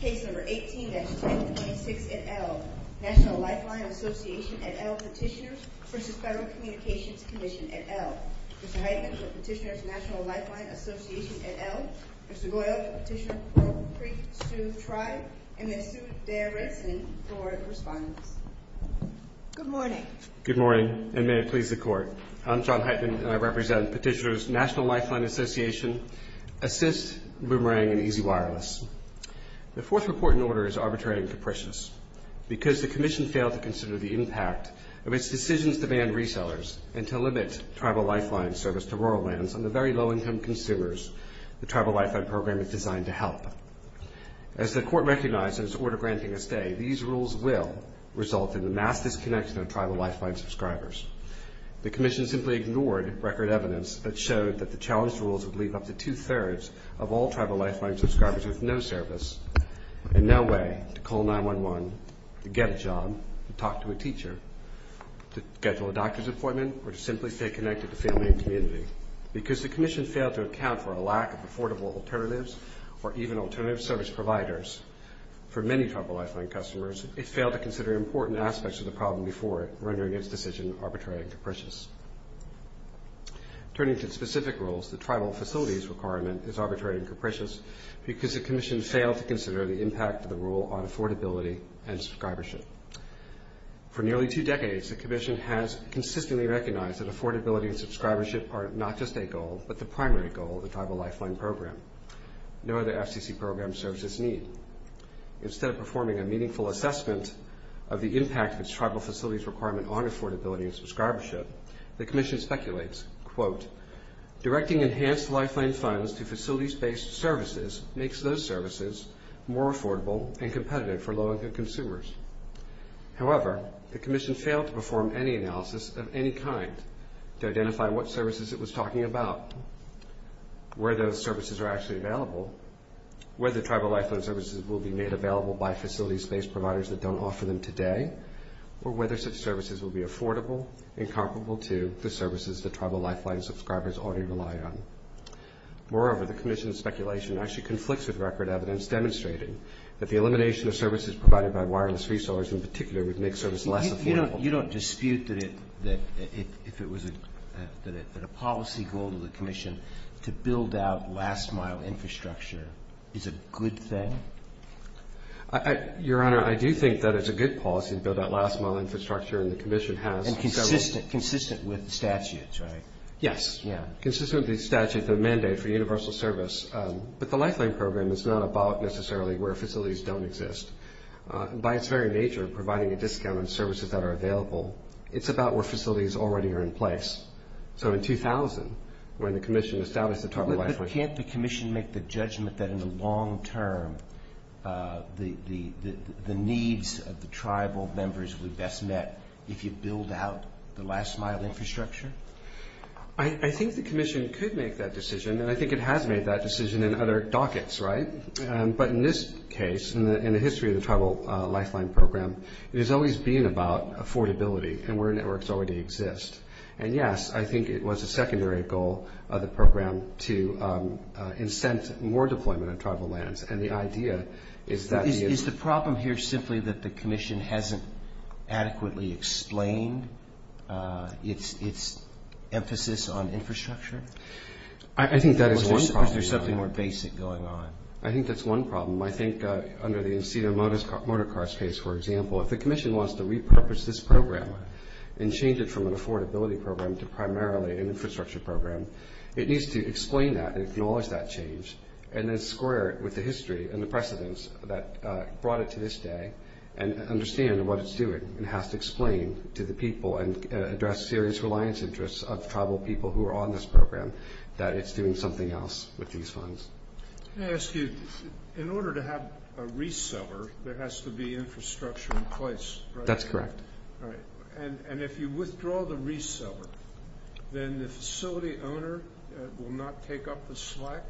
Case number 18-226 et al. National Lifeline Association et al. Petitioners v. Federal Communications Commission et al. Mr. Heitman for Petitioners National Lifeline Association et al. Mr. Goyal for Petitioner Coral Creek Sioux Tribe. And Ms. Sue Dearest for correspondence. Good morning. I'm John Heitman, and I represent Petitioners National Lifeline Association, ASIST, Boomerang, and Easy Wireless. The fourth report in order is arbitrary and capricious. Because the Commission failed to consider the impact of its decisions to ban resellers and to limit Tribal Lifeline service to rural lands on the very low-income consumers, the Tribal Lifeline program is designed to help. As the Court recognized in its order granting a stay, these rules will result in the mass disconnection of Tribal Lifeline subscribers. The Commission simply ignored record evidence that showed that the challenged rules would leave up to two-thirds of all Tribal Lifeline subscribers with no service and no way to call 911, to get a job, to talk to a teacher, to schedule a doctor's appointment, or to simply stay connected to family and community. Because the Commission failed to account for a lack of affordable alternatives or even alternative service providers for many Tribal Lifeline customers, it failed to consider important aspects of the problem before it, rendering its decision arbitrary and capricious. Turning to specific rules, the Tribal Facilities requirement is arbitrary and capricious because the Commission failed to consider the impact of the rule on affordability and subscribership. For nearly two decades, the Commission has consistently recognized that affordability and subscribership are not just a goal, but the primary goal of the Tribal Lifeline program. No other FCC program serves this need. Instead of performing a meaningful assessment of the impact of its Tribal Facilities requirement on affordability and subscribership, the Commission speculates, quote, directing enhanced Lifeline funds to facilities-based services makes those services more affordable and competitive for low-income consumers. However, the Commission failed to perform any analysis of any kind to identify what services it was talking about, where those services are actually available, whether Tribal Lifeline services will be made available by facilities-based providers that don't offer them today, or whether such services will be affordable and comparable to the services that Tribal Lifeline subscribers already rely on. Moreover, the Commission's speculation actually conflicts with record evidence demonstrating that the elimination of services provided by wireless resellers in particular would make service less affordable. You don't dispute that a policy goal of the Commission to build out last-mile infrastructure is a good thing? Your Honor, I do think that it's a good policy to build out last-mile infrastructure, and the Commission has several And consistent with the statutes, right? Yes. Consistent with the statute, the mandate for universal service. But the Lifeline program is not about necessarily where facilities don't exist. By its very nature, providing a discount on services that are available, it's about where facilities already are in place. So in 2000, when the Commission established the Tribal Lifeline But can't the Commission make the judgment that in the long term, the needs of the Tribal members will be best met if you build out the last-mile infrastructure? I think the Commission could make that decision, and I think it has made that decision in other dockets, right? But in this case, in the history of the Tribal Lifeline program, it has always been about affordability and where networks already exist. And, yes, I think it was a secondary goal of the program to incent more deployment of tribal lands. And the idea is that the Is the problem here simply that the Commission hasn't adequately explained its emphasis on infrastructure? I think that is one problem. Or is there something more basic going on? I think that's one problem. I think under the Encino Motorcars case, for example, if the Commission wants to repurpose this program and change it from an affordability program to primarily an infrastructure program, it needs to explain that and acknowledge that change and then square it with the history and the precedence that brought it to this day and understand what it's doing and has to explain to the people and address serious reliance interests of tribal people who are on this program that it's doing something else with these funds. Can I ask you, in order to have a reseller, there has to be infrastructure in place, right? That's correct. And if you withdraw the reseller, then the facility owner will not take up the slack?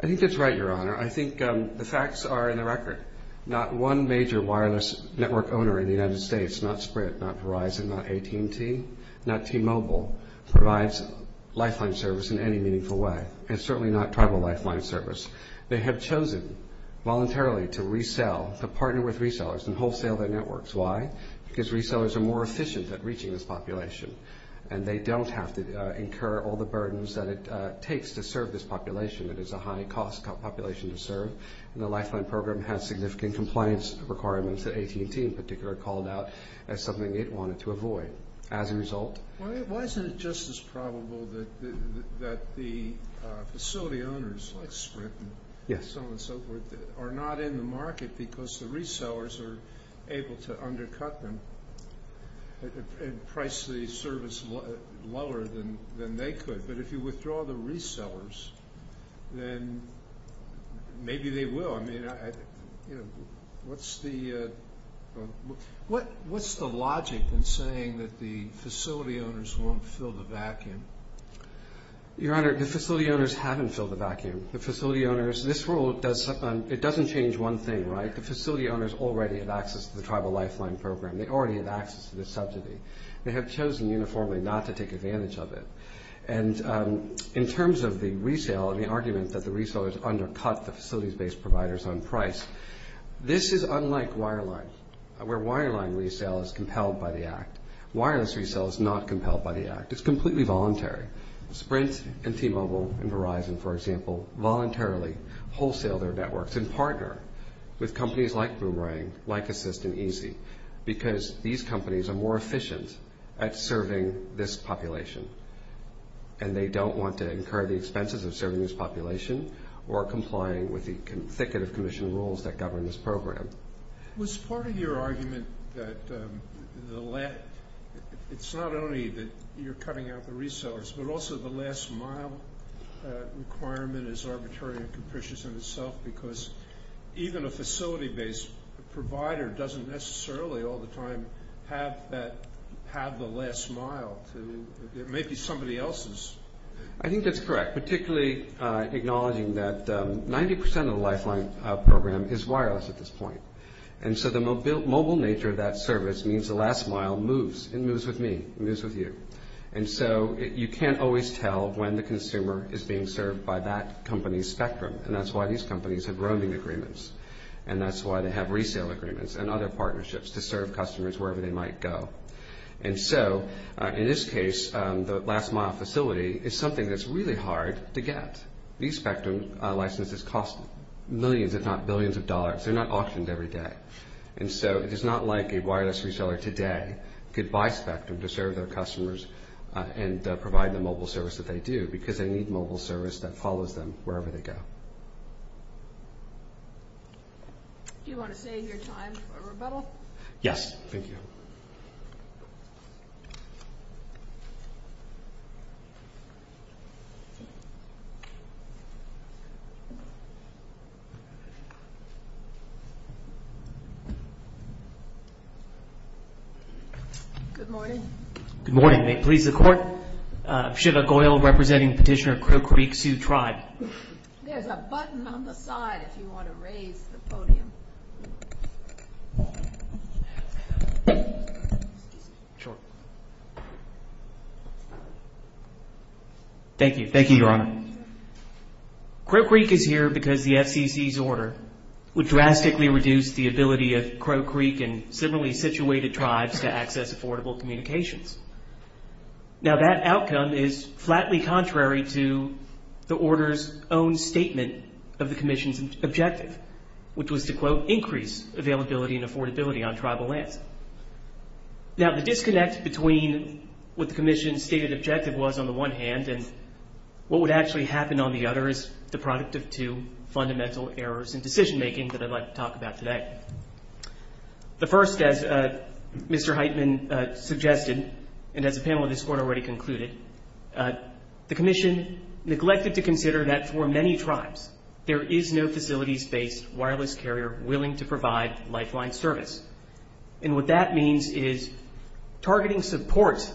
I think that's right, Your Honor. I think the facts are in the record. Not one major wireless network owner in the United States, not Sprint, not Verizon, not AT&T, not T-Mobile, provides lifeline service in any meaningful way, and certainly not tribal lifeline service. They have chosen voluntarily to resell, to partner with resellers and wholesale their networks. Why? Because resellers are more efficient at reaching this population and they don't have to incur all the burdens that it takes to serve this population. It is a high-cost population to serve, and the lifeline program has significant compliance requirements that AT&T, in particular, called out as something it wanted to avoid. Why isn't it just as probable that the facility owners, like Sprint and so on and so forth, are not in the market because the resellers are able to undercut them and price the service lower than they could? But if you withdraw the resellers, then maybe they will. No, I mean, what's the logic in saying that the facility owners won't fill the vacuum? Your Honor, the facility owners haven't filled the vacuum. The facility owners, this rule, it doesn't change one thing, right? The facility owners already have access to the tribal lifeline program. They already have access to the subsidy. They have chosen uniformly not to take advantage of it. In terms of the resale and the argument that the resellers undercut the facilities-based providers on price, this is unlike wireline, where wireline resale is compelled by the Act. Wireless resale is not compelled by the Act. It's completely voluntary. Sprint and T-Mobile and Verizon, for example, voluntarily wholesale their networks and partner with companies like Boomerang, like Assist, and Easy because these companies are more efficient at serving this population, and they don't want to incur the expenses of serving this population or complying with the thicket of commission rules that govern this program. Was part of your argument that it's not only that you're cutting out the resellers, but also the last mile requirement is arbitrary and capricious in itself because even a facility-based provider doesn't necessarily all the time have the last mile. It may be somebody else's. I think that's correct, particularly acknowledging that 90% of the lifeline program is wireless at this point. And so the mobile nature of that service means the last mile moves. It moves with me. It moves with you. And so you can't always tell when the consumer is being served by that company's spectrum, and that's why these companies have roaming agreements, and that's why they have resale agreements and other partnerships to serve customers wherever they might go. And so in this case, the last mile facility is something that's really hard to get. These spectrum licenses cost millions if not billions of dollars. They're not auctioned every day. And so it is not like a wireless reseller today could buy spectrum to serve their customers and provide the mobile service that they do because they need mobile service that follows them wherever they go. Do you want to save your time for rebuttal? Yes, thank you. Good morning. Good morning. May it please the Court, Shiva Goyal representing Petitioner Crow Creek Sioux Tribe. There's a button on the side if you want to raise the podium. Sure. Thank you. Thank you, Your Honor. Crow Creek is here because the FCC's order would drastically reduce the ability of Crow Creek and similarly situated tribes to access affordable communications. Now, that outcome is flatly contrary to the order's own statement of the commission's objective, which was to, quote, increase availability and affordability on tribal lands. Now, the disconnect between what the commission's stated objective was on the one hand and what would actually happen on the other is the product of two fundamental errors in decision-making that I'd like to talk about today. The first, as Mr. Heitman suggested, and as the panel of this Court already concluded, the commission neglected to consider that for many tribes, there is no facilities-based wireless carrier willing to provide lifeline service. And what that means is targeting support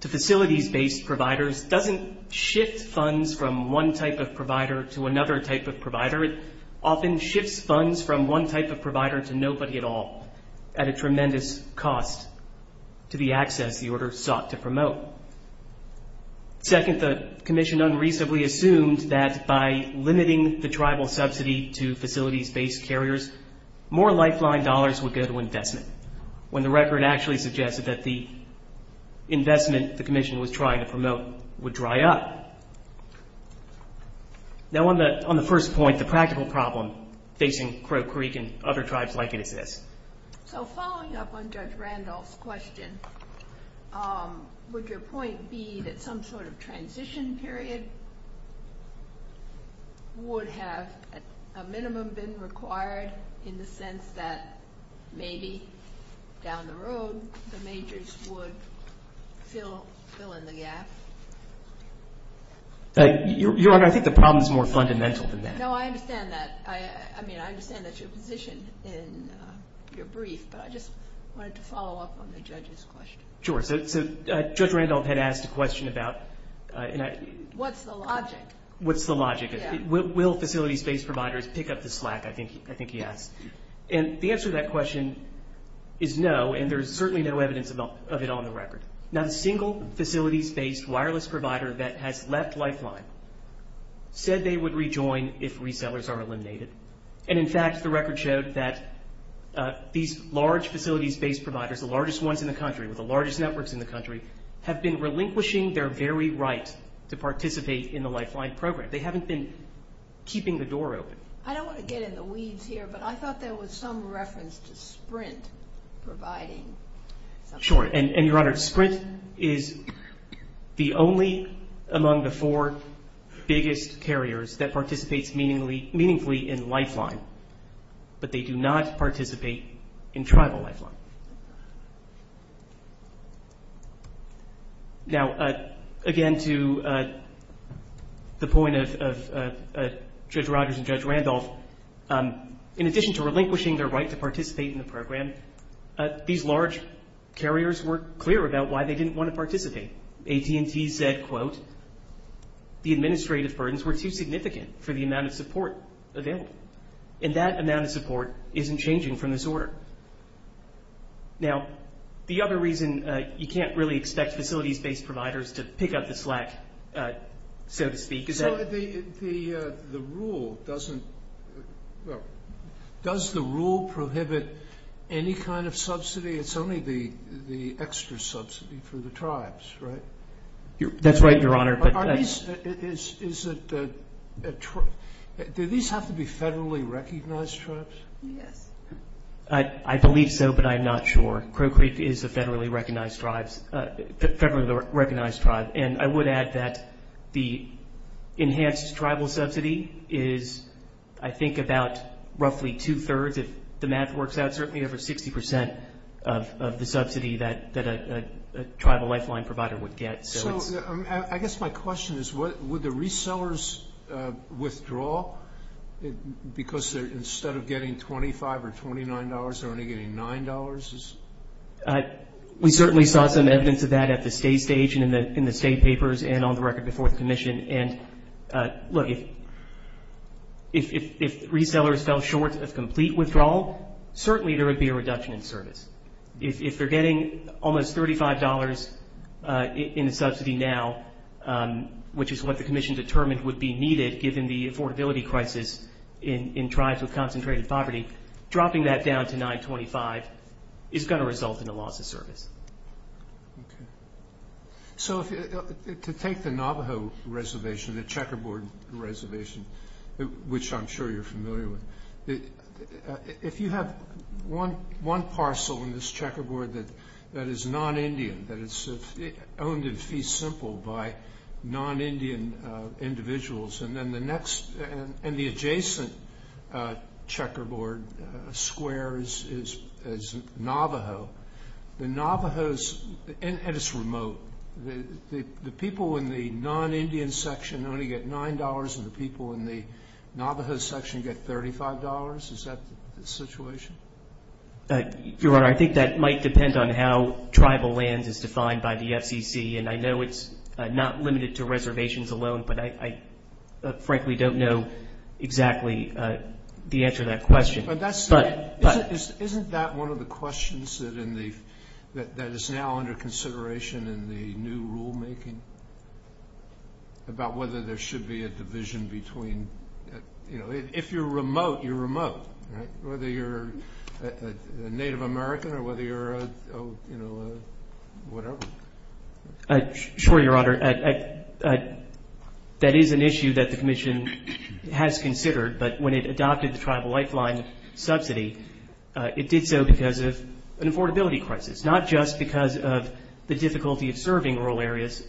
to facilities-based providers doesn't shift funds from one type of provider to another type of provider. It often shifts funds from one type of provider to nobody at all at a tremendous cost to the access the order sought to promote. Second, the commission unreasonably assumed that by limiting the tribal subsidy to facilities-based carriers, more lifeline dollars would go to investment, when the record actually suggested that the investment the commission was trying to promote would dry up. Now, on the first point, the practical problem facing Crow Creek and other tribes like it is this. So following up on Judge Randolph's question, would your point be that some sort of transition period would have, at a minimum, been required in the sense that maybe down the road the majors would fill in the gap? Your Honor, I think the problem is more fundamental than that. No, I understand that. I mean, I understand that's your position in your brief, but I just wanted to follow up on the judge's question. Sure. So Judge Randolph had asked a question about... What's the logic? What's the logic? Yeah. Will facilities-based providers pick up the slack, I think he asked. And the answer to that question is no, and there's certainly no evidence of it on the record. Not a single facilities-based wireless provider that has left Lifeline said they would rejoin if resellers are eliminated. And, in fact, the record showed that these large facilities-based providers, the largest ones in the country with the largest networks in the country, have been relinquishing their very right to participate in the Lifeline program. They haven't been keeping the door open. I don't want to get in the weeds here, but I thought there was some reference to Sprint providing. Sure. And, Your Honor, Sprint is the only among the four biggest carriers that participates meaningfully in Lifeline, but they do not participate in tribal Lifeline. Now, again, to the point of Judge Rogers and Judge Randolph, in addition to relinquishing their right to participate in the program, these large carriers were clear about why they didn't want to participate. AT&T said, quote, the administrative burdens were too significant for the amount of support available, and that amount of support isn't changing from this order. Now, the other reason you can't really expect facilities-based providers to pick up the slack, so to speak, is that- So the rule doesn't-does the rule prohibit any kind of subsidy? It's only the extra subsidy for the tribes, right? That's right, Your Honor. Are these-do these have to be federally recognized tribes? Yes. I believe so, but I'm not sure. Crow Creek is a federally recognized tribe, and I would add that the enhanced tribal subsidy is, I think, about roughly two-thirds, if the math works out, certainly over 60 percent of the subsidy that a tribal Lifeline provider would get. So I guess my question is, would the resellers withdraw? Because instead of getting $25 or $29, they're only getting $9? We certainly saw some evidence of that at the state stage and in the state papers and on the record before the commission. And, look, if resellers fell short of complete withdrawal, certainly there would be a reduction in service. If they're getting almost $35 in a subsidy now, which is what the commission determined would be needed given the affordability crisis in tribes with concentrated poverty, dropping that down to $9.25 is going to result in a loss of service. So to take the Navajo Reservation, the Checkerboard Reservation, which I'm sure you're familiar with, if you have one parcel in this checkerboard that is non-Indian, that is owned in fee simple by non-Indian individuals, and then the adjacent checkerboard square is Navajo, and it's remote. The people in the non-Indian section only get $9, and the people in the Navajo section get $35? Is that the situation? Your Honor, I think that might depend on how tribal lands is defined by the FCC. And I know it's not limited to reservations alone, but I frankly don't know exactly the answer to that question. Isn't that one of the questions that is now under consideration in the new rulemaking, about whether there should be a division between, you know, if you're remote, you're remote, right? Whether you're a Native American or whether you're, you know, whatever. Sure, Your Honor. That is an issue that the Commission has considered, but when it adopted the Tribal Lifeline Subsidy, it did so because of an affordability crisis, not just because of the difficulty of serving rural areas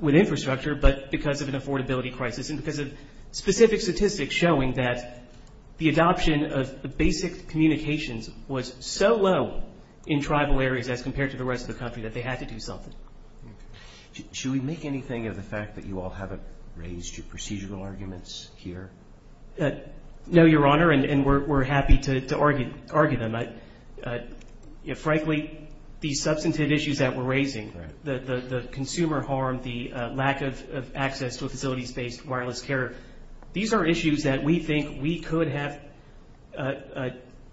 with infrastructure, but because of an affordability crisis and because of specific statistics showing that the adoption of basic Should we make anything of the fact that you all haven't raised your procedural arguments here? No, Your Honor, and we're happy to argue them. Frankly, these substantive issues that we're raising, the consumer harm, the lack of access to a facilities-based wireless carrier, these are issues that we think we could have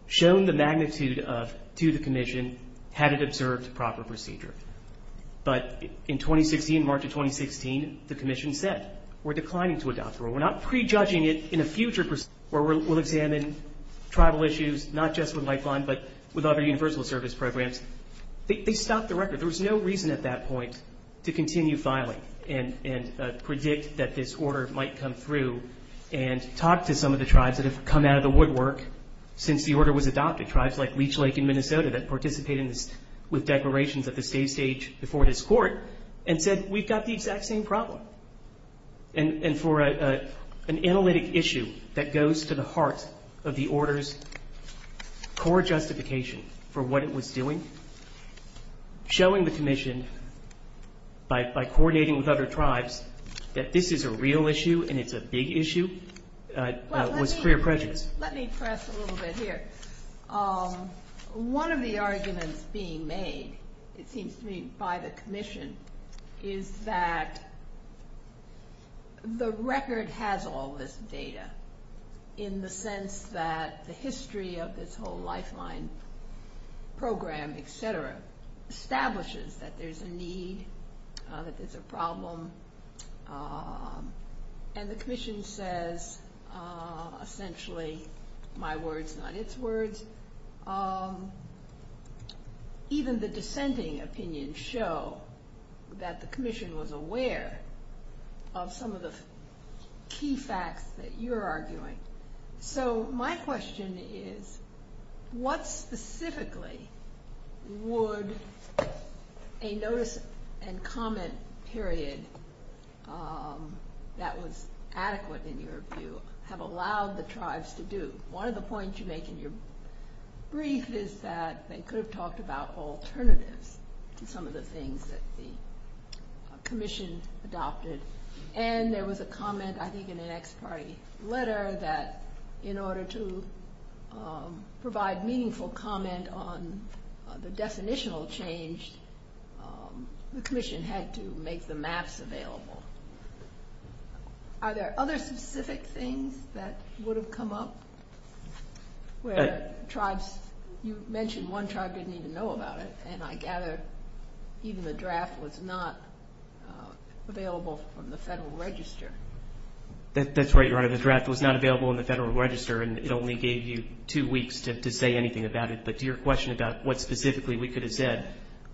shown the magnitude of to the Commission had it observed proper procedure. But in 2016, March of 2016, the Commission said we're declining to adopt the rule. We're not prejudging it in a future where we'll examine tribal issues, not just with Lifeline, but with other universal service programs. They stopped the record. There was no reason at that point to continue filing and predict that this order might come through and talk to some of the tribes that have come out of the woodwork since the order was adopted, tribes like Leech Lake in Minnesota that participated with declarations at the state stage before this court and said we've got the exact same problem. And for an analytic issue that goes to the heart of the order's core justification for what it was doing, showing the Commission by coordinating with other tribes that this is a real issue and it's a big issue was clear prejudice. Let me press a little bit here. One of the arguments being made, it seems to me, by the Commission is that the record has all this data in the sense that the history of this whole Lifeline program, et cetera, establishes that there's a need, that there's a problem, and the Commission says essentially my words, not its words. Even the dissenting opinions show that the Commission was aware of some of the key facts that you're arguing. So my question is what specifically would a notice and comment period that was adequate in your view have allowed the tribes to do? One of the points you make in your brief is that they could have talked about alternatives to some of the things that the Commission adopted. And there was a comment I think in an ex parte letter that in order to provide meaningful comment on the definitional change, the Commission had to make the maps available. Are there other specific things that would have come up where tribes, you mentioned one tribe didn't even know about it, and I gather even the draft was not available from the Federal Register. That's right, Your Honor. The draft was not available in the Federal Register, and it only gave you two weeks to say anything about it. But to your question about what specifically we could have said,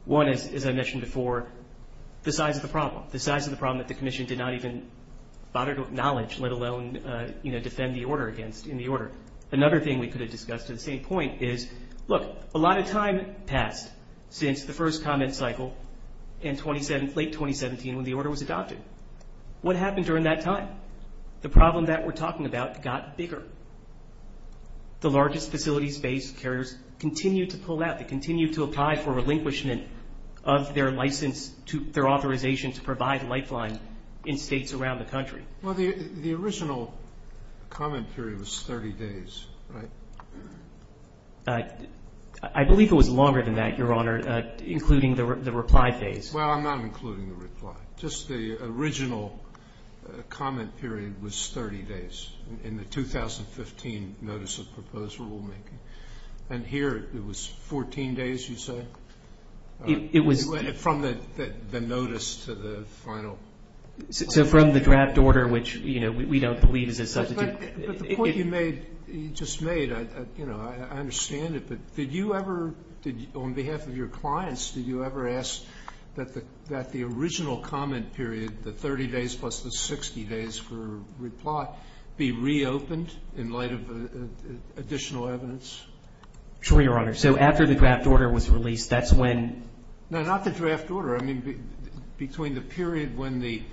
one is, as I mentioned before, the size of the problem, the size of the problem that the Commission did not even bother to acknowledge, let alone defend the order against in the order. Another thing we could have discussed at the same point is, look, a lot of time passed since the first comment cycle in late 2017 when the order was adopted. What happened during that time? The problem that we're talking about got bigger. The largest facilities-based carriers continue to pull out. They continue to apply for relinquishment of their license, their authorization to provide lifeline in states around the country. Well, the original comment period was 30 days, right? I believe it was longer than that, Your Honor, including the reply phase. Well, I'm not including the reply. Just the original comment period was 30 days in the 2015 Notice of Proposed Rulemaking. And here it was 14 days, you say? It was. From the notice to the final. So from the draft order, which, you know, we don't believe is as such. But the point you made, you just made, you know, I understand it. But did you ever, on behalf of your clients, did you ever ask that the original comment period, the 30 days plus the 60 days for reply, be reopened in light of additional evidence? Sure, Your Honor. So after the draft order was released, that's when. No, not the draft order. I mean, between the period when the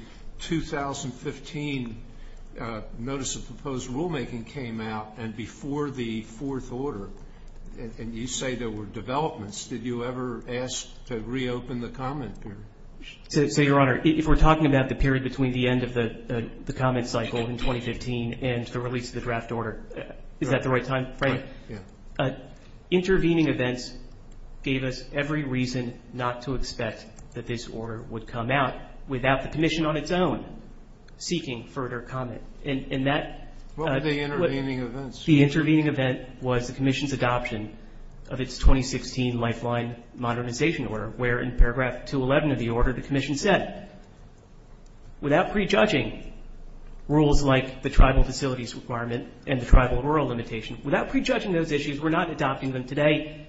2015 Notice of Proposed Rulemaking came out and before the fourth order, and you say there were developments, did you ever ask to reopen the comment period? So, Your Honor, if we're talking about the period between the end of the comment cycle in 2015 and the release of the draft order, is that the right time frame? Right, yeah. Intervening events gave us every reason not to expect that this order would come out without the commission on its own seeking further comment. And that. What were the intervening events? The intervening event was the commission's adoption of its 2016 Lifeline Modernization Order, where in paragraph 211 of the order the commission said, without prejudging rules like the tribal facilities requirement and the tribal rural limitation, without prejudging those issues, we're not adopting them today,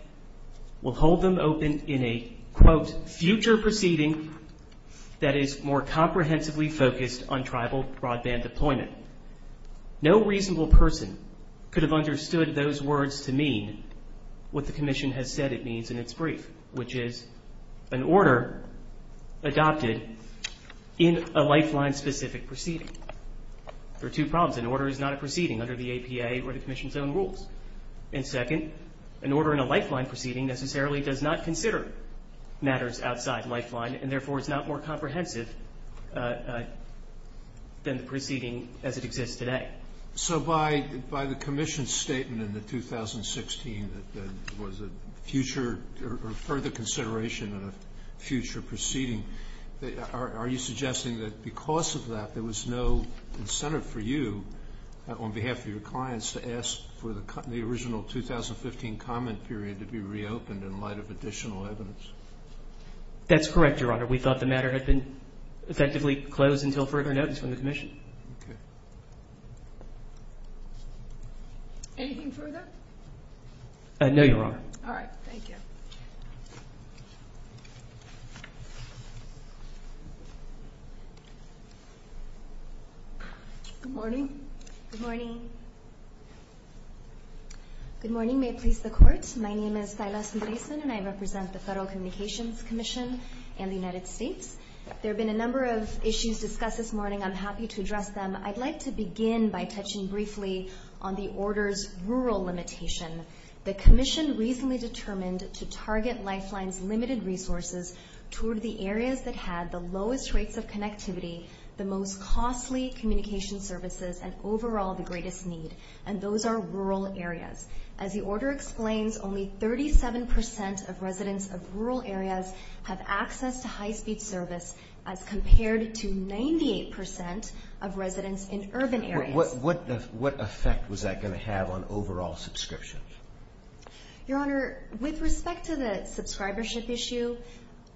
we'll hold them open in a, quote, future proceeding that is more comprehensively focused on tribal broadband deployment. No reasonable person could have understood those words to mean what the commission has said it means in its brief, which is an order adopted in a Lifeline-specific proceeding. There are two problems. An order is not a proceeding under the APA or the commission's own rules. And second, an order in a Lifeline proceeding necessarily does not consider matters outside Lifeline and therefore is not more comprehensive than the proceeding as it exists today. So by the commission's statement in the 2016 that there was a future or further consideration of a future proceeding, are you suggesting that because of that there was no incentive for you on behalf of your clients to ask for the original 2015 comment period to be reopened in light of additional evidence? That's correct, Your Honor. We thought the matter had been effectively closed until further notice from the commission. Anything further? No, Your Honor. All right. Thank you. Good morning. Good morning. Good morning. May it please the Court. My name is Thyla Sundresen, and I represent the Federal Communications Commission and the United States. There have been a number of issues discussed this morning. I'm happy to address them. I'd like to begin by touching briefly on the order's rural limitation. The commission recently determined to target Lifeline's limited resources toward the areas that had the lowest rates of connectivity, the most costly communication services, and overall the greatest need, and those are rural areas. As the order explains, only 37% of residents of rural areas have access to high-speed service as compared to 98% of residents in urban areas. What effect was that going to have on overall subscriptions? Your Honor, with respect to the subscribership issue,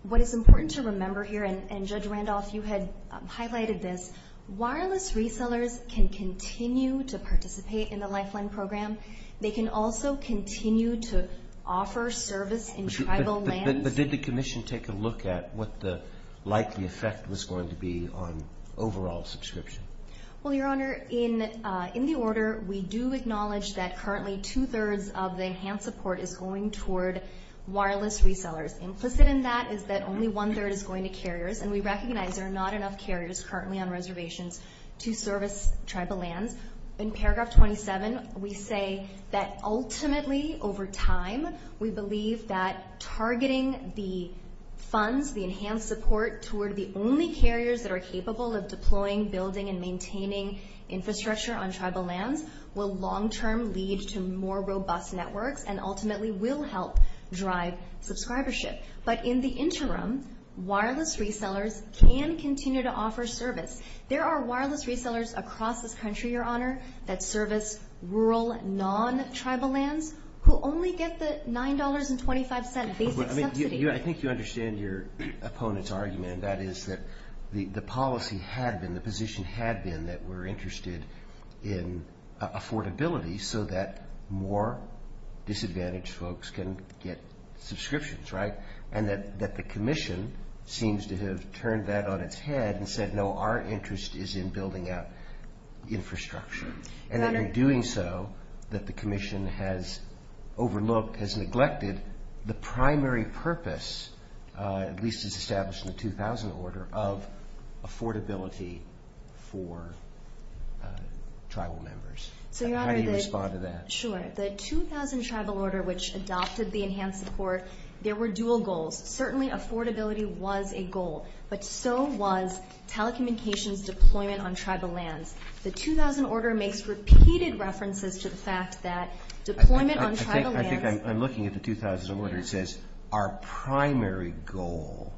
what is important to remember here, and Judge Randolph, you had highlighted this, wireless resellers can continue to participate in the Lifeline program. They can also continue to offer service in tribal lands. But did the commission take a look at what the likely effect was going to be on overall subscription? Well, Your Honor, in the order we do acknowledge that currently two-thirds of the enhanced support is going toward wireless resellers. Implicit in that is that only one-third is going to carriers, and we recognize there are not enough carriers currently on reservations to service tribal lands. In paragraph 27, we say that ultimately over time we believe that targeting the funds, the enhanced support toward the only carriers that are capable of deploying, building, and maintaining infrastructure on tribal lands will long-term lead to more robust networks and ultimately will help drive subscribership. But in the interim, wireless resellers can continue to offer service. There are wireless resellers across this country, Your Honor, that service rural non-tribal lands who only get the $9.25 basic subsidy. I think you understand your opponent's argument, and that is that the policy had been, the position had been that we're interested in affordability so that more disadvantaged folks can get subscriptions, right? And that the commission seems to have turned that on its head and said, no, our interest is in building out infrastructure. And in doing so, that the commission has overlooked, has neglected the primary purpose, at least as established in the 2000 Order, of affordability for tribal members. How do you respond to that? Sure. The 2000 Tribal Order, which adopted the enhanced support, there were dual goals. Certainly affordability was a goal, but so was telecommunications deployment on tribal lands. It sounds like I'm looking at the 2000 Order. It says, our primary goal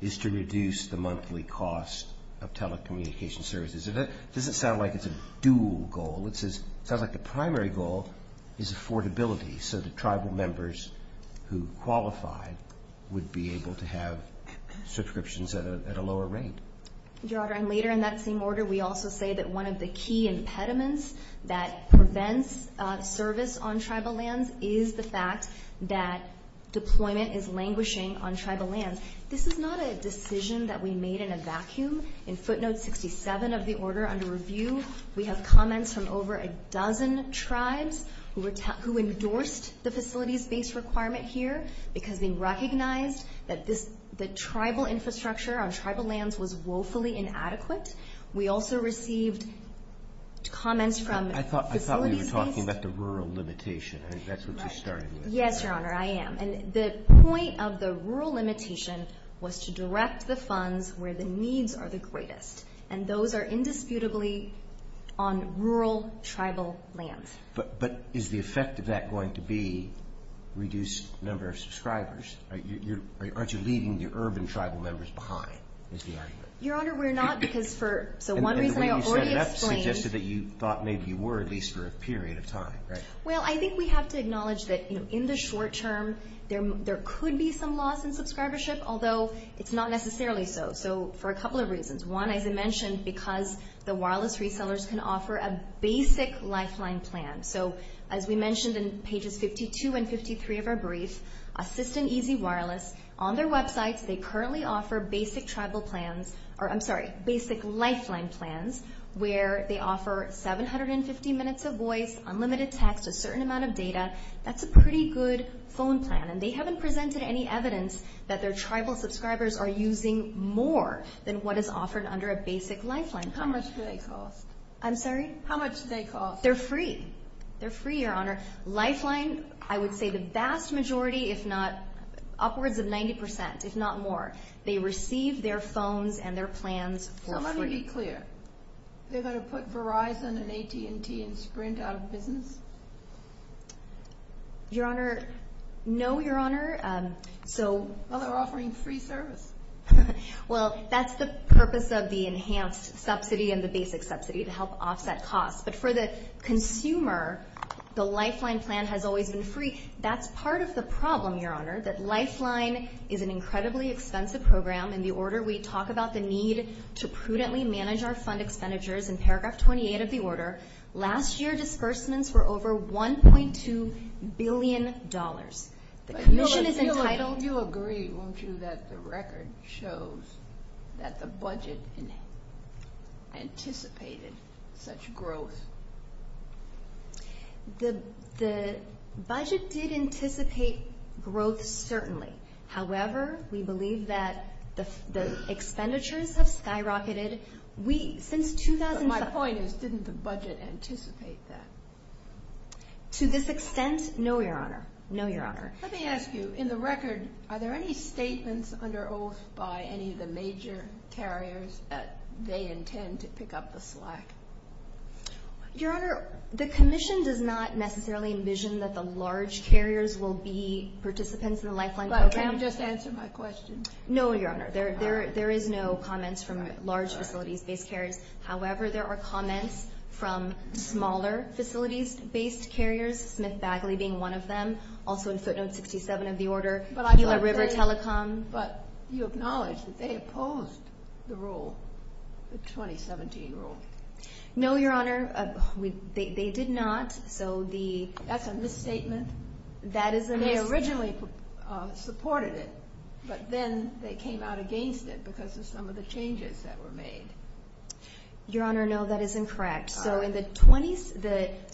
is to reduce the monthly cost of telecommunications services. It doesn't sound like it's a dual goal. It sounds like the primary goal is affordability, so that tribal members who qualify would be able to have subscriptions at a lower rate. Your Honor, and later in that same order, we also say that one of the key impediments that prevents service on tribal lands is the fact that deployment is languishing on tribal lands. This is not a decision that we made in a vacuum. In footnote 67 of the order under review, we have comments from over a dozen tribes who endorsed the facilities-based requirement here because they recognized that the tribal infrastructure on tribal lands was woefully inadequate. We also received comments from facilities-based. I thought we were talking about the rural limitation. I think that's what you're starting with. Yes, Your Honor, I am. And the point of the rural limitation was to direct the funds where the needs are the greatest, and those are indisputably on rural tribal lands. But is the effect of that going to be reduced number of subscribers? Aren't you leaving the urban tribal members behind is the argument. Your Honor, we're not. So one reason I already explained. That suggested that you thought maybe you were, at least for a period of time, right? Well, I think we have to acknowledge that in the short term, there could be some loss in subscribership, although it's not necessarily so, so for a couple of reasons. One, as I mentioned, because the wireless resellers can offer a basic lifeline plan. So as we mentioned in pages 52 and 53 of our brief, Assistant Easy Wireless, on their websites they currently offer basic tribal plans, or I'm sorry, basic lifeline plans, where they offer 750 minutes of voice, unlimited text, a certain amount of data. That's a pretty good phone plan, and they haven't presented any evidence that their tribal subscribers are using more than what is offered under a basic lifeline plan. How much do they cost? I'm sorry? How much do they cost? They're free. They're free, Your Honor. Their lifeline, I would say the vast majority, if not upwards of 90%, if not more, they receive their phones and their plans for free. So let me be clear. They're going to put Verizon and AT&T and Sprint out of business? Your Honor, no, Your Honor. Well, they're offering free service. Well, that's the purpose of the enhanced subsidy and the basic subsidy, to help offset costs. But for the consumer, the lifeline plan has always been free. That's part of the problem, Your Honor, that lifeline is an incredibly expensive program. In the order we talk about the need to prudently manage our fund expenditures, in paragraph 28 of the order, last year disbursements were over $1.2 billion. The commission is entitled. Don't you agree, won't you, that the record shows that the budget anticipated such growth? The budget did anticipate growth, certainly. However, we believe that the expenditures have skyrocketed since 2007. But my point is, didn't the budget anticipate that? To this extent, no, Your Honor, no, Your Honor. Let me ask you, in the record, are there any statements under oath by any of the major carriers that they intend to pick up the slack? Your Honor, the commission does not necessarily envision that the large carriers will be participants in the lifeline program. But can you just answer my question? No, Your Honor. There is no comments from large facilities-based carriers. However, there are comments from smaller facilities-based carriers, Smith-Bagley being one of them, also in footnote 67 of the order, Hewlett-River Telecom. But you acknowledge that they opposed the rule, the 2017 rule? No, Your Honor, they did not. That's a misstatement. That is a misstatement. They originally supported it, but then they came out against it because of some of the changes that were made. Your Honor, no, that is incorrect. So in the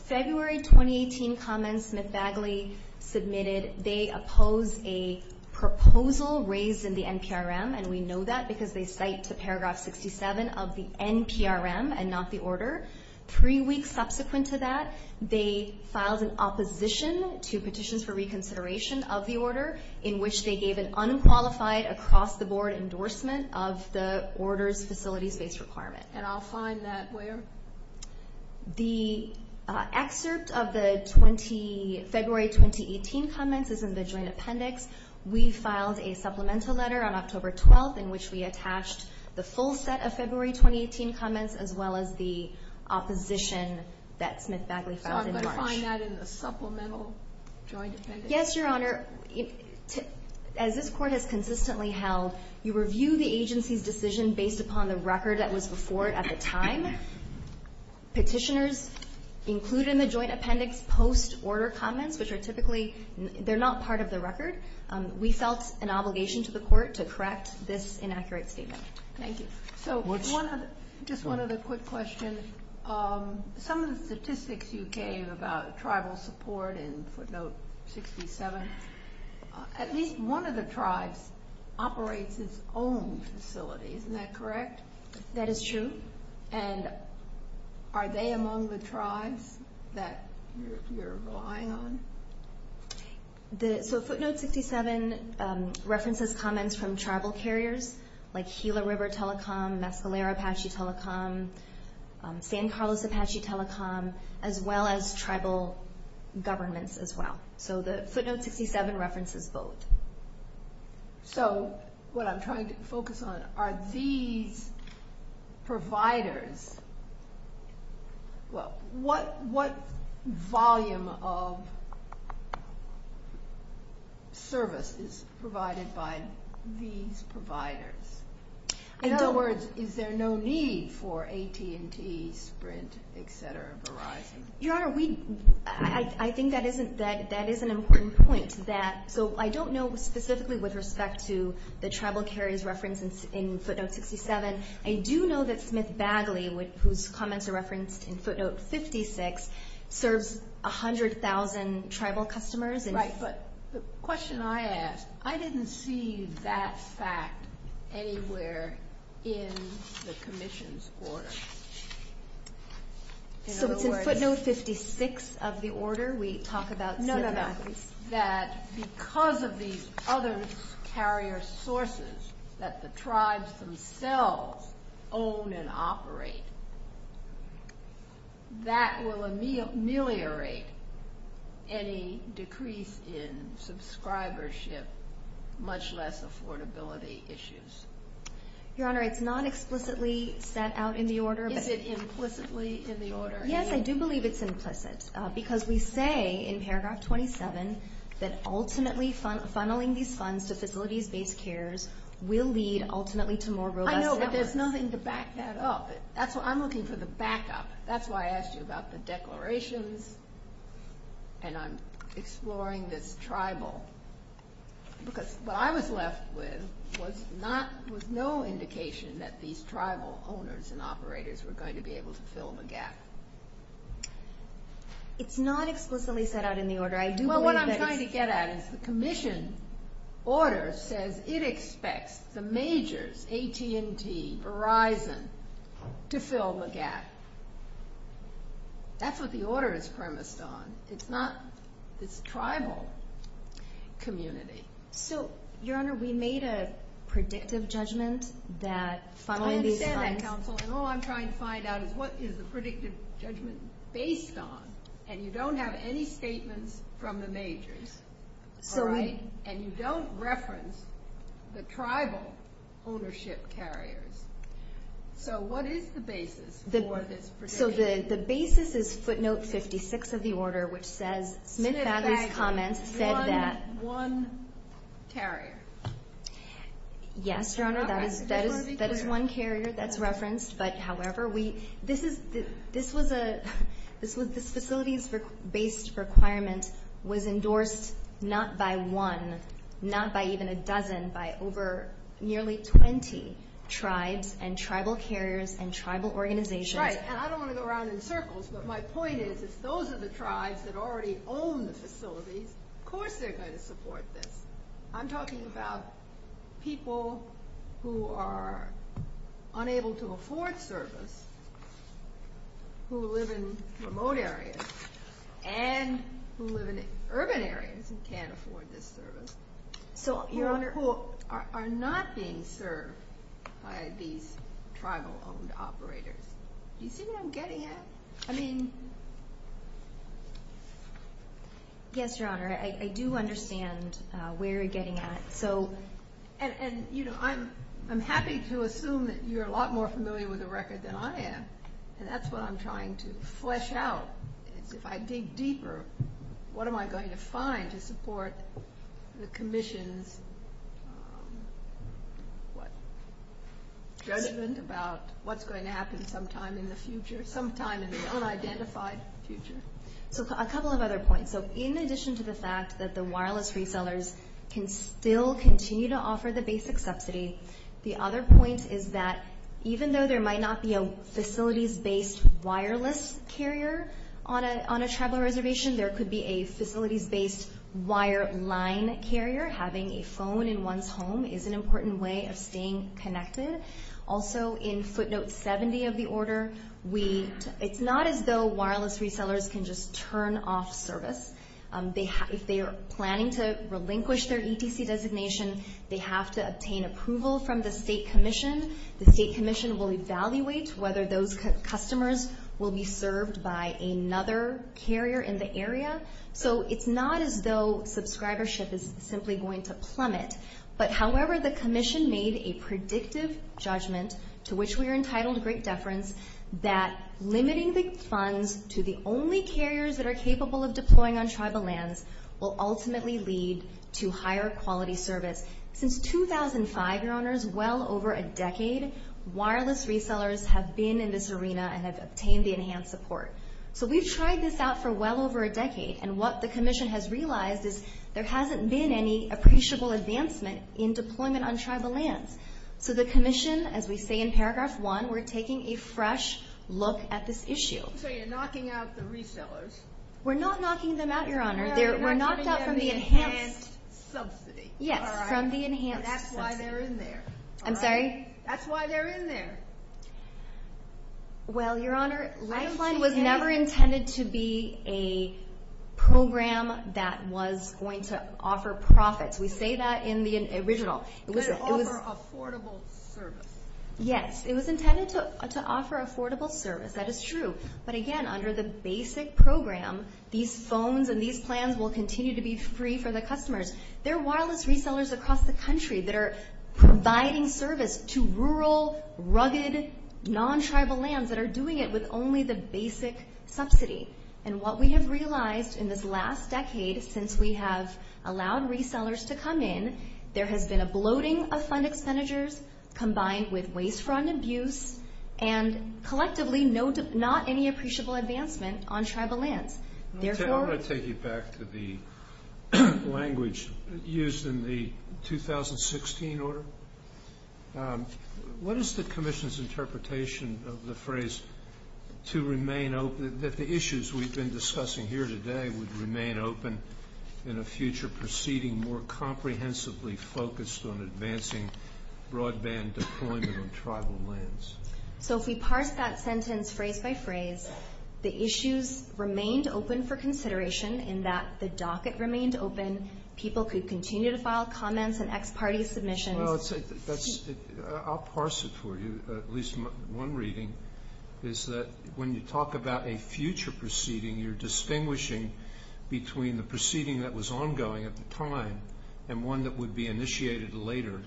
February 2018 comments Smith-Bagley submitted, they opposed a proposal raised in the NPRM, and we know that because they cite to Paragraph 67 of the NPRM and not the order. Three weeks subsequent to that, they filed an opposition to petitions for reconsideration of the order, in which they gave an unqualified across-the-board endorsement of the order's facilities-based requirement. And I'll find that where? The excerpt of the February 2018 comments is in the joint appendix. We filed a supplemental letter on October 12th in which we attached the full set of February 2018 comments as well as the opposition that Smith-Bagley filed in March. So I'm going to find that in the supplemental joint appendix? Yes, Your Honor. As this Court has consistently held, you review the agency's decision based upon the record that was before it at the time. Petitioners include in the joint appendix post-order comments, which are typically not part of the record. We felt an obligation to the Court to correct this inaccurate statement. Thank you. Just one other quick question. Some of the statistics you gave about tribal support in footnote 67, at least one of the tribes operates its own facility. Isn't that correct? That is true. And are they among the tribes that you're relying on? So footnote 67 references comments from tribal carriers like Gila River Telecom, Mescalero Apache Telecom, San Carlos Apache Telecom, as well as tribal governments as well. So the footnote 67 references both. So what I'm trying to focus on are these providers. What volume of service is provided by these providers? In other words, is there no need for AT&T, Sprint, et cetera, Verizon? Your Honor, I think that is an important point. So I don't know specifically with respect to the tribal carriers referenced in footnote 67. I do know that Smith Bagley, whose comments are referenced in footnote 56, serves 100,000 tribal customers. Right. But the question I ask, I didn't see that fact anywhere in the commission's order. So it's in footnote 56 of the order we talk about Smith Bagley. No, no, no. That because of these other carrier sources that the tribes themselves own and operate, that will ameliorate any decrease in subscribership, much less affordability issues. Your Honor, it's not explicitly set out in the order. Is it implicitly in the order? Yes, I do believe it's implicit. Because we say in paragraph 27 that ultimately funneling these funds to facilities-based cares will lead ultimately to more robust efforts. I know, but there's nothing to back that up. I'm looking for the backup. That's why I asked you about the declarations, and I'm exploring this tribal. Because what I was left with was no indication that these tribal owners and operators were going to be able to fill the gap. It's not explicitly set out in the order. I do believe that it's- Well, what I'm trying to get at is the commission order says it expects the majors, AT&T, Verizon, to fill the gap. That's what the order is premised on. It's not this tribal community. So, Your Honor, we made a predictive judgment that funneling these funds- I understand that, counsel, and all I'm trying to find out is what is the predictive judgment based on, and you don't have any statements from the majors. And you don't reference the tribal ownership carriers. So what is the basis for this prediction? So the basis is footnote 56 of the order, which says Smith-Badley's comments said that- One carrier. Yes, Your Honor, that is one carrier that's referenced. But, however, this facility's based requirement was endorsed not by one, not by even a dozen, by nearly 20 tribes and tribal carriers and tribal organizations. Right, and I don't want to go around in circles, but my point is, if those are the tribes that already own the facilities, of course they're going to support this. I'm talking about people who are unable to afford service, who live in remote areas, and who live in urban areas and can't afford this service, who are not being served by these tribal-owned operators. Do you see what I'm getting at? I mean- Yes, Your Honor, I do understand where you're getting at. And, you know, I'm happy to assume that you're a lot more familiar with the record than I am, and that's what I'm trying to flesh out, is if I dig deeper, what am I going to find to support the Commission's judgment about what's going to happen sometime in the future, sometime in the unidentified future? So a couple of other points. So in addition to the fact that the wireless resellers can still continue to offer the basic subsidy, the other point is that even though there might not be a facilities-based wireless carrier on a tribal reservation, there could be a facilities-based wire line carrier. Having a phone in one's home is an important way of staying connected. Also, in footnote 70 of the order, it's not as though wireless resellers can just turn off service. If they are planning to relinquish their ETC designation, they have to obtain approval from the State Commission. The State Commission will evaluate whether those customers will be served by another carrier in the area. So it's not as though subscribership is simply going to plummet. But, however, the Commission made a predictive judgment, to which we are entitled great deference, that limiting the funds to the only carriers that are capable of deploying on tribal lands will ultimately lead to higher quality service. Since 2005, Your Honors, well over a decade, wireless resellers have been in this arena and have obtained the enhanced support. So we've tried this out for well over a decade. And what the Commission has realized is there hasn't been any appreciable advancement in deployment on tribal lands. So the Commission, as we say in Paragraph 1, we're taking a fresh look at this issue. So you're knocking out the resellers? We're not knocking them out, Your Honor. No, you're not knocking them out of the enhanced subsidy. Yes, from the enhanced subsidy. And that's why they're in there. I'm sorry? That's why they're in there. Well, Your Honor, Lifeline was never intended to be a program that was going to offer profits. We say that in the original. But offer affordable service. Yes, it was intended to offer affordable service. That is true. But, again, under the basic program, these phones and these plans will continue to be free for the customers. There are wireless resellers across the country that are providing service to rural, rugged, non-tribal lands that are doing it with only the basic subsidy. And what we have realized in this last decade since we have allowed resellers to come in, there has been a bloating of fund expenditures combined with waste-front abuse and collectively not any appreciable advancement on tribal lands. I want to take you back to the language used in the 2016 order. What is the commission's interpretation of the phrase that the issues we've been discussing here today would remain open in a future proceeding more comprehensively focused on advancing broadband deployment on tribal lands? So if we parse that sentence phrase by phrase, the issues remained open for consideration in that the docket remained open, people could continue to file comments and ex parte submissions. I'll parse it for you, at least one reading, is that when you talk about a future proceeding, you're distinguishing between the proceeding that was ongoing at the time and one that would be initiated later.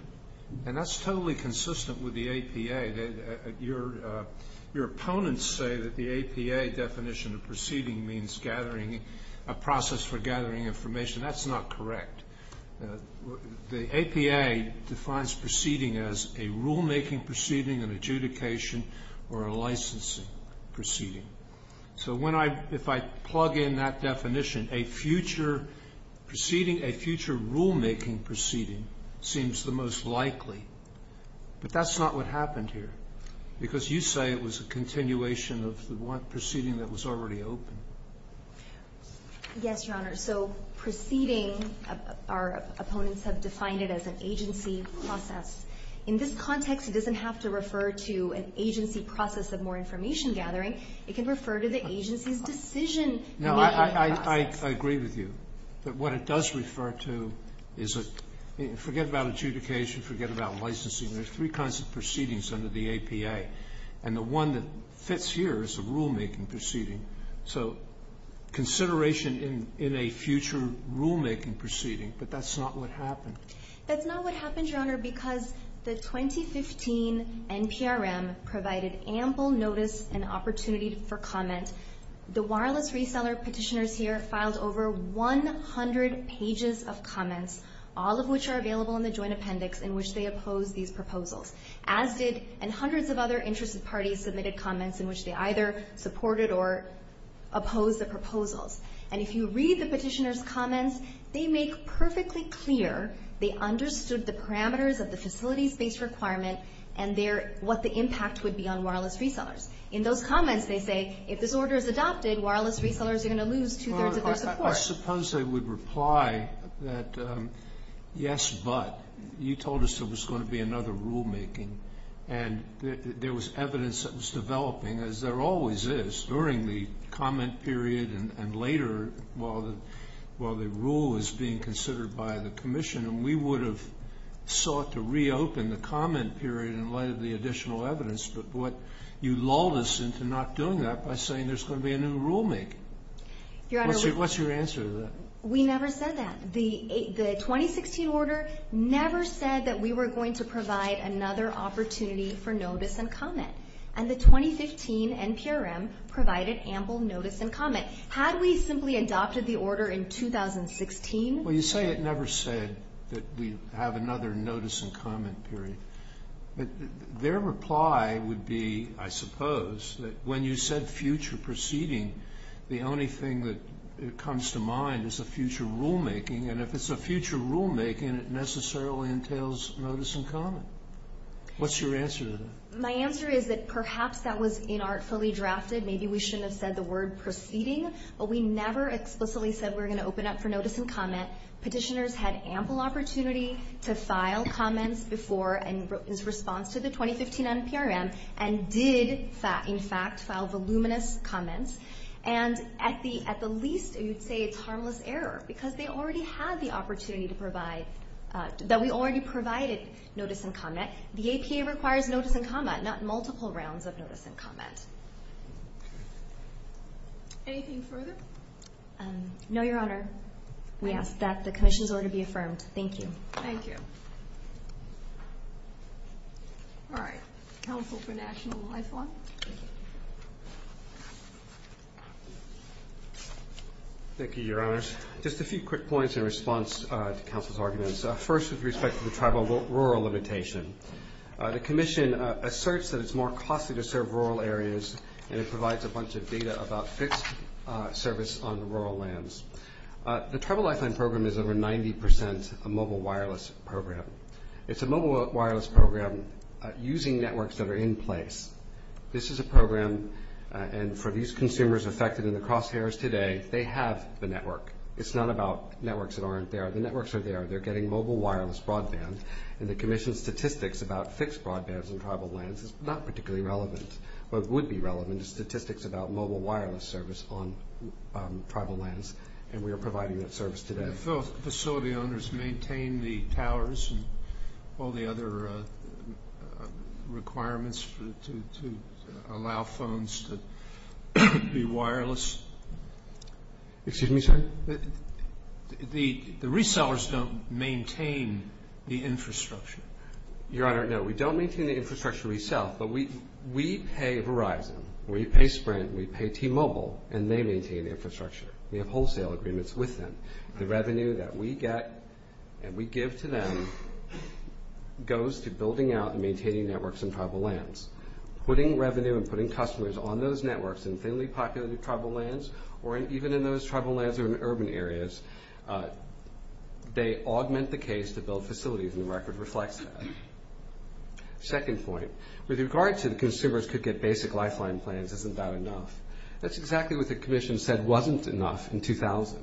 And that's totally consistent with the APA. Your opponents say that the APA definition of proceeding means a process for gathering information. That's not correct. The APA defines proceeding as a rulemaking proceeding, an adjudication, or a licensing proceeding. So if I plug in that definition, a future proceeding, a future rulemaking proceeding seems the most likely. But that's not what happened here, because you say it was a continuation of the proceeding that was already open. Yes, Your Honor. So proceeding, our opponents have defined it as an agency process. In this context, it doesn't have to refer to an agency process of more information gathering. It can refer to the agency's decision-making process. No, I agree with you. But what it does refer to is a, forget about adjudication, forget about licensing. There's three kinds of proceedings under the APA. And the one that fits here is a rulemaking proceeding. So consideration in a future rulemaking proceeding, but that's not what happened. That's not what happened, Your Honor, because the 2015 NPRM provided ample notice and opportunity for comment. The wireless reseller petitioners here filed over 100 pages of comments, all of which are available in the joint appendix in which they oppose these proposals, and hundreds of other interested parties submitted comments in which they either supported or opposed the proposals. And if you read the petitioners' comments, they make perfectly clear they understood the parameters of the facilities-based requirement and what the impact would be on wireless resellers. In those comments, they say, if this order is adopted, wireless resellers are going to lose two-thirds of their support. I suppose I would reply that yes, but. You told us there was going to be another rulemaking, and there was evidence that was developing, as there always is, during the comment period and later while the rule was being considered by the commission, and we would have sought to reopen the comment period in light of the additional evidence. But you lulled us into not doing that by saying there's going to be a new rulemaking. What's your answer to that? We never said that. The 2016 order never said that we were going to provide another opportunity for notice and comment. And the 2015 NPRM provided ample notice and comment. Had we simply adopted the order in 2016? Well, you say it never said that we have another notice and comment period. Their reply would be, I suppose, that when you said future proceeding, the only thing that comes to mind is a future rulemaking, and if it's a future rulemaking, it necessarily entails notice and comment. What's your answer to that? My answer is that perhaps that was inartfully drafted. Maybe we shouldn't have said the word proceeding, but we never explicitly said we were going to open up for notice and comment. Petitioners had ample opportunity to file comments before in response to the 2015 NPRM and did, in fact, file voluminous comments. And at the least, you'd say it's harmless error because they already had the opportunity to provide, that we already provided notice and comment. The APA requires notice and comment, not multiple rounds of notice and comment. Anything further? No, Your Honor. We ask that the commission's order be affirmed. Thank you. Thank you. All right. Counsel for National Lifelong. Thank you, Your Honors. Just a few quick points in response to counsel's arguments. First, with respect to the tribal rural limitation, the commission asserts that it's more costly to serve rural areas, and it provides a bunch of data about fixed service on rural lands. The Tribal Lifeline Program is over 90% a mobile wireless program. It's a mobile wireless program using networks that are in place. This is a program, and for these consumers affected in the crosshairs today, they have the network. It's not about networks that aren't there. The networks are there. They're getting mobile wireless broadband, and the commission's statistics about fixed broadband on tribal lands is not particularly relevant. What would be relevant is statistics about mobile wireless service on tribal lands, and we are providing that service today. Do the facility owners maintain the towers and all the other requirements to allow phones to be wireless? Excuse me, sir? The resellers don't maintain the infrastructure. Your Honor, no, we don't maintain the infrastructure we sell, but we pay Verizon, we pay Sprint, we pay T-Mobile, and they maintain the infrastructure. We have wholesale agreements with them. The revenue that we get and we give to them goes to building out and maintaining networks in tribal lands. Putting revenue and putting customers on those networks in thinly populated tribal lands or even in those tribal lands or in urban areas, they augment the case to build facilities, and the record reflects that. Second point, with regard to the consumers could get basic lifeline plans, isn't that enough? That's exactly what the commission said wasn't enough in 2000.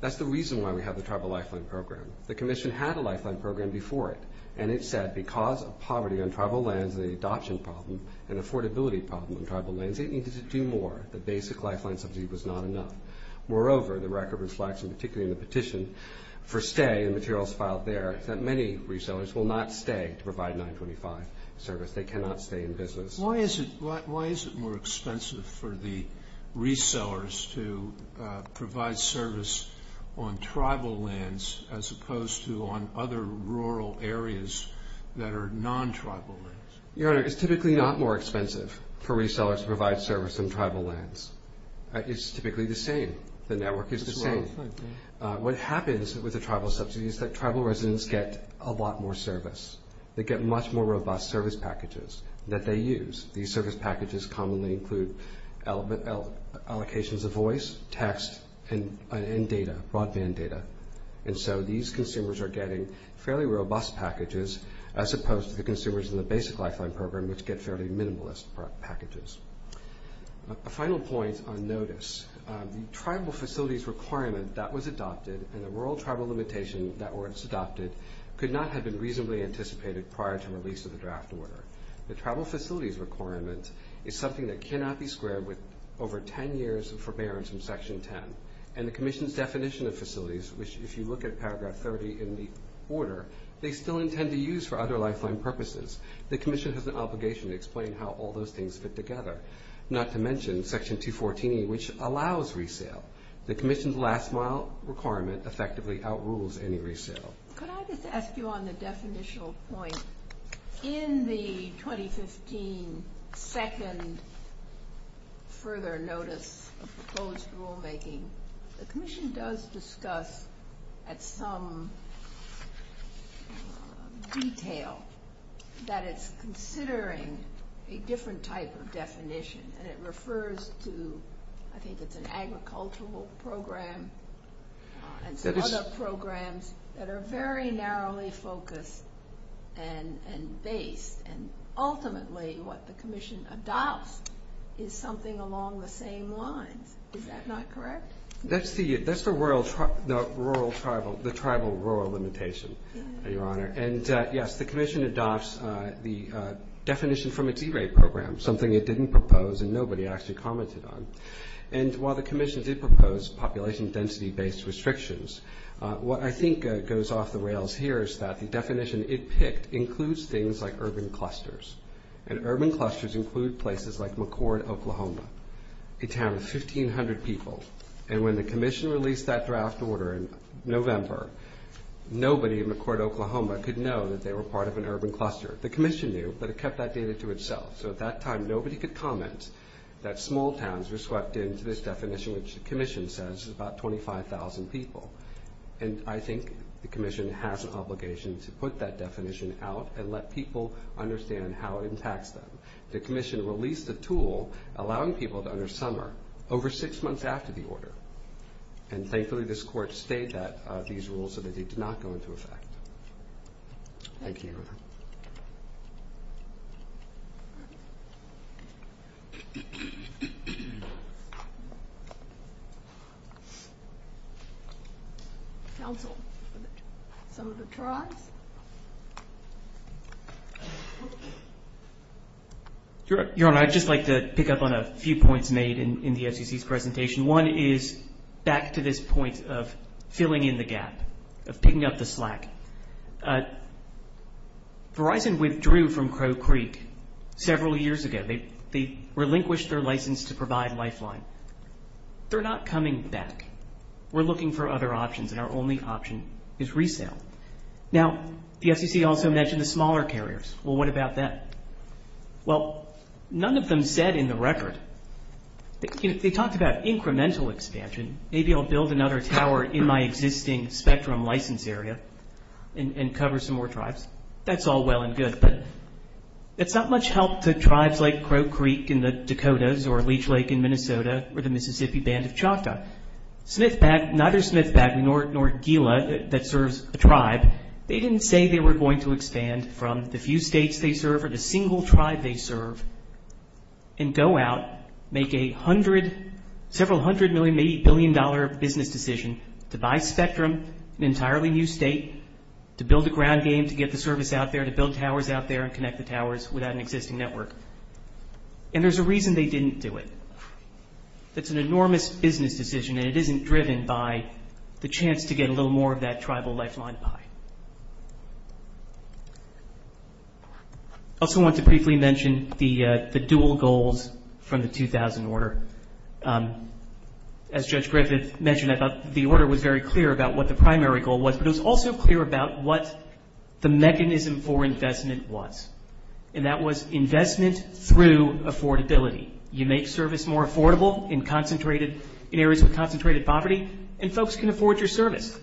That's the reason why we have the tribal lifeline program. The commission had a lifeline program before it, and it said because of poverty on tribal lands and the adoption problem and affordability problem on tribal lands, it needed to do more. The basic lifeline subsidy was not enough. Moreover, the record reflects, and particularly in the petition for stay, the materials filed there, that many resellers will not stay to provide 925 service. They cannot stay in business. Why is it more expensive for the resellers to provide service on tribal lands as opposed to on other rural areas that are non-tribal lands? Your Honor, it's typically not more expensive for resellers to provide service on tribal lands. It's typically the same. The network is the same. What happens with the tribal subsidy is that tribal residents get a lot more service. They get much more robust service packages that they use. These service packages commonly include allocations of voice, text, and data, broadband data. And so these consumers are getting fairly robust packages as opposed to the consumers in the basic lifeline program, which get fairly minimalist packages. A final point on notice. The tribal facilities requirement that was adopted and the rural tribal limitation that was adopted could not have been reasonably anticipated prior to release of the draft order. The tribal facilities requirement is something that cannot be squared with over 10 years of forbearance in Section 10. And the Commission's definition of facilities, which if you look at Paragraph 30 in the order, they still intend to use for other lifeline purposes. The Commission has an obligation to explain how all those things fit together, not to mention Section 214A, which allows resale. The Commission's last mile requirement effectively outrules any resale. Could I just ask you on the definitional point, in the 2015 second further notice of proposed rulemaking, the Commission does discuss at some detail that it's considering a different type of definition. And it refers to, I think it's an agricultural program and some other programs that are very narrowly focused and based. And ultimately what the Commission adopts is something along the same lines. Is that not correct? That's the tribal rural limitation, Your Honor. And, yes, the Commission adopts the definition from its E-rate program, something it didn't propose and nobody actually commented on. And while the Commission did propose population density-based restrictions, what I think goes off the rails here is that the definition it picked includes things like urban clusters. And urban clusters include places like McCord, Oklahoma, a town of 1,500 people. And when the Commission released that draft order in November, nobody in McCord, Oklahoma, could know that they were part of an urban cluster. The Commission knew, but it kept that data to itself. So at that time nobody could comment that small towns were swept into this definition, which the Commission says is about 25,000 people. And I think the Commission has an obligation to put that definition out and let people understand how it impacts them. The Commission released a tool allowing people to enter summer over six months after the order. And, thankfully, this Court stayed these rules so that they did not go into effect. Thank you. Council, some of the tries. Your Honor, I'd just like to pick up on a few points made in the FCC's presentation. One is back to this point of filling in the gap, of picking up the slack. Verizon withdrew from Crow Creek several years ago. They relinquished their license to provide Lifeline. They're not coming back. We're looking for other options, and our only option is resale. Now, the FCC also mentioned the smaller carriers. Well, what about that? Well, none of them said in the record. They talked about incremental expansion. Maybe I'll build another tower in my existing spectrum license area and cover some more tribes. That's all well and good. But it's not much help to tribes like Crow Creek in the Dakotas or Leech Lake in Minnesota or the Mississippi Band of Choctaw. Smithpac, neither Smithpac nor Gila that serves a tribe, they didn't say they were going to expand from the few states they serve or the single tribe they serve and go out, make a hundred, several hundred million, maybe a billion dollar business decision to buy spectrum, an entirely new state, to build a ground game to get the service out there, to build towers out there and connect the towers without an existing network. And there's a reason they didn't do it. It's an enormous business decision, and it isn't driven by the chance to get a little more of that tribal lifeline pie. I also want to briefly mention the dual goals from the 2000 order. As Judge Griffith mentioned, I thought the order was very clear about what the primary goal was, but it was also clear about what the mechanism for investment was, and that was investment through affordability. You make service more affordable in areas with concentrated poverty, and folks can afford your service,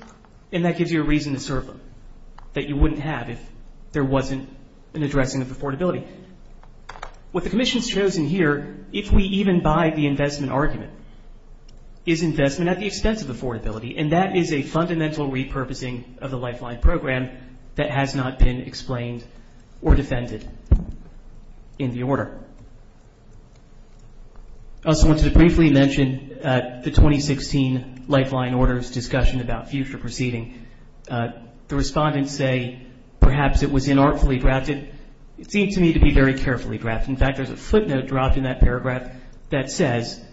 and that gives you a reason to serve them that you wouldn't have if there wasn't an addressing of affordability. What the Commission's chosen here, if we even buy the investment argument, is investment at the expense of affordability, and that is a fundamental repurposing of the lifeline program that has not been explained or defended in the order. I also wanted to briefly mention the 2016 lifeline orders discussion about future proceeding. The respondents say perhaps it was inartfully drafted. It seemed to me to be very carefully drafted. In fact, there's a footnote dropped in that paragraph that says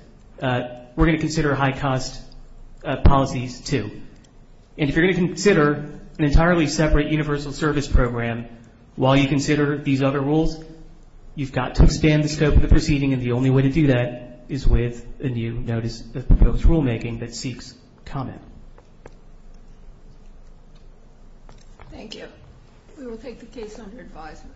we're going to consider high-cost policies too. And if you're going to consider an entirely separate universal service program while you consider these other rules, you've got to expand the scope of the proceeding, and the only way to do that is with a new notice of proposed rulemaking that seeks comment. Thank you. We will take the case under advisement.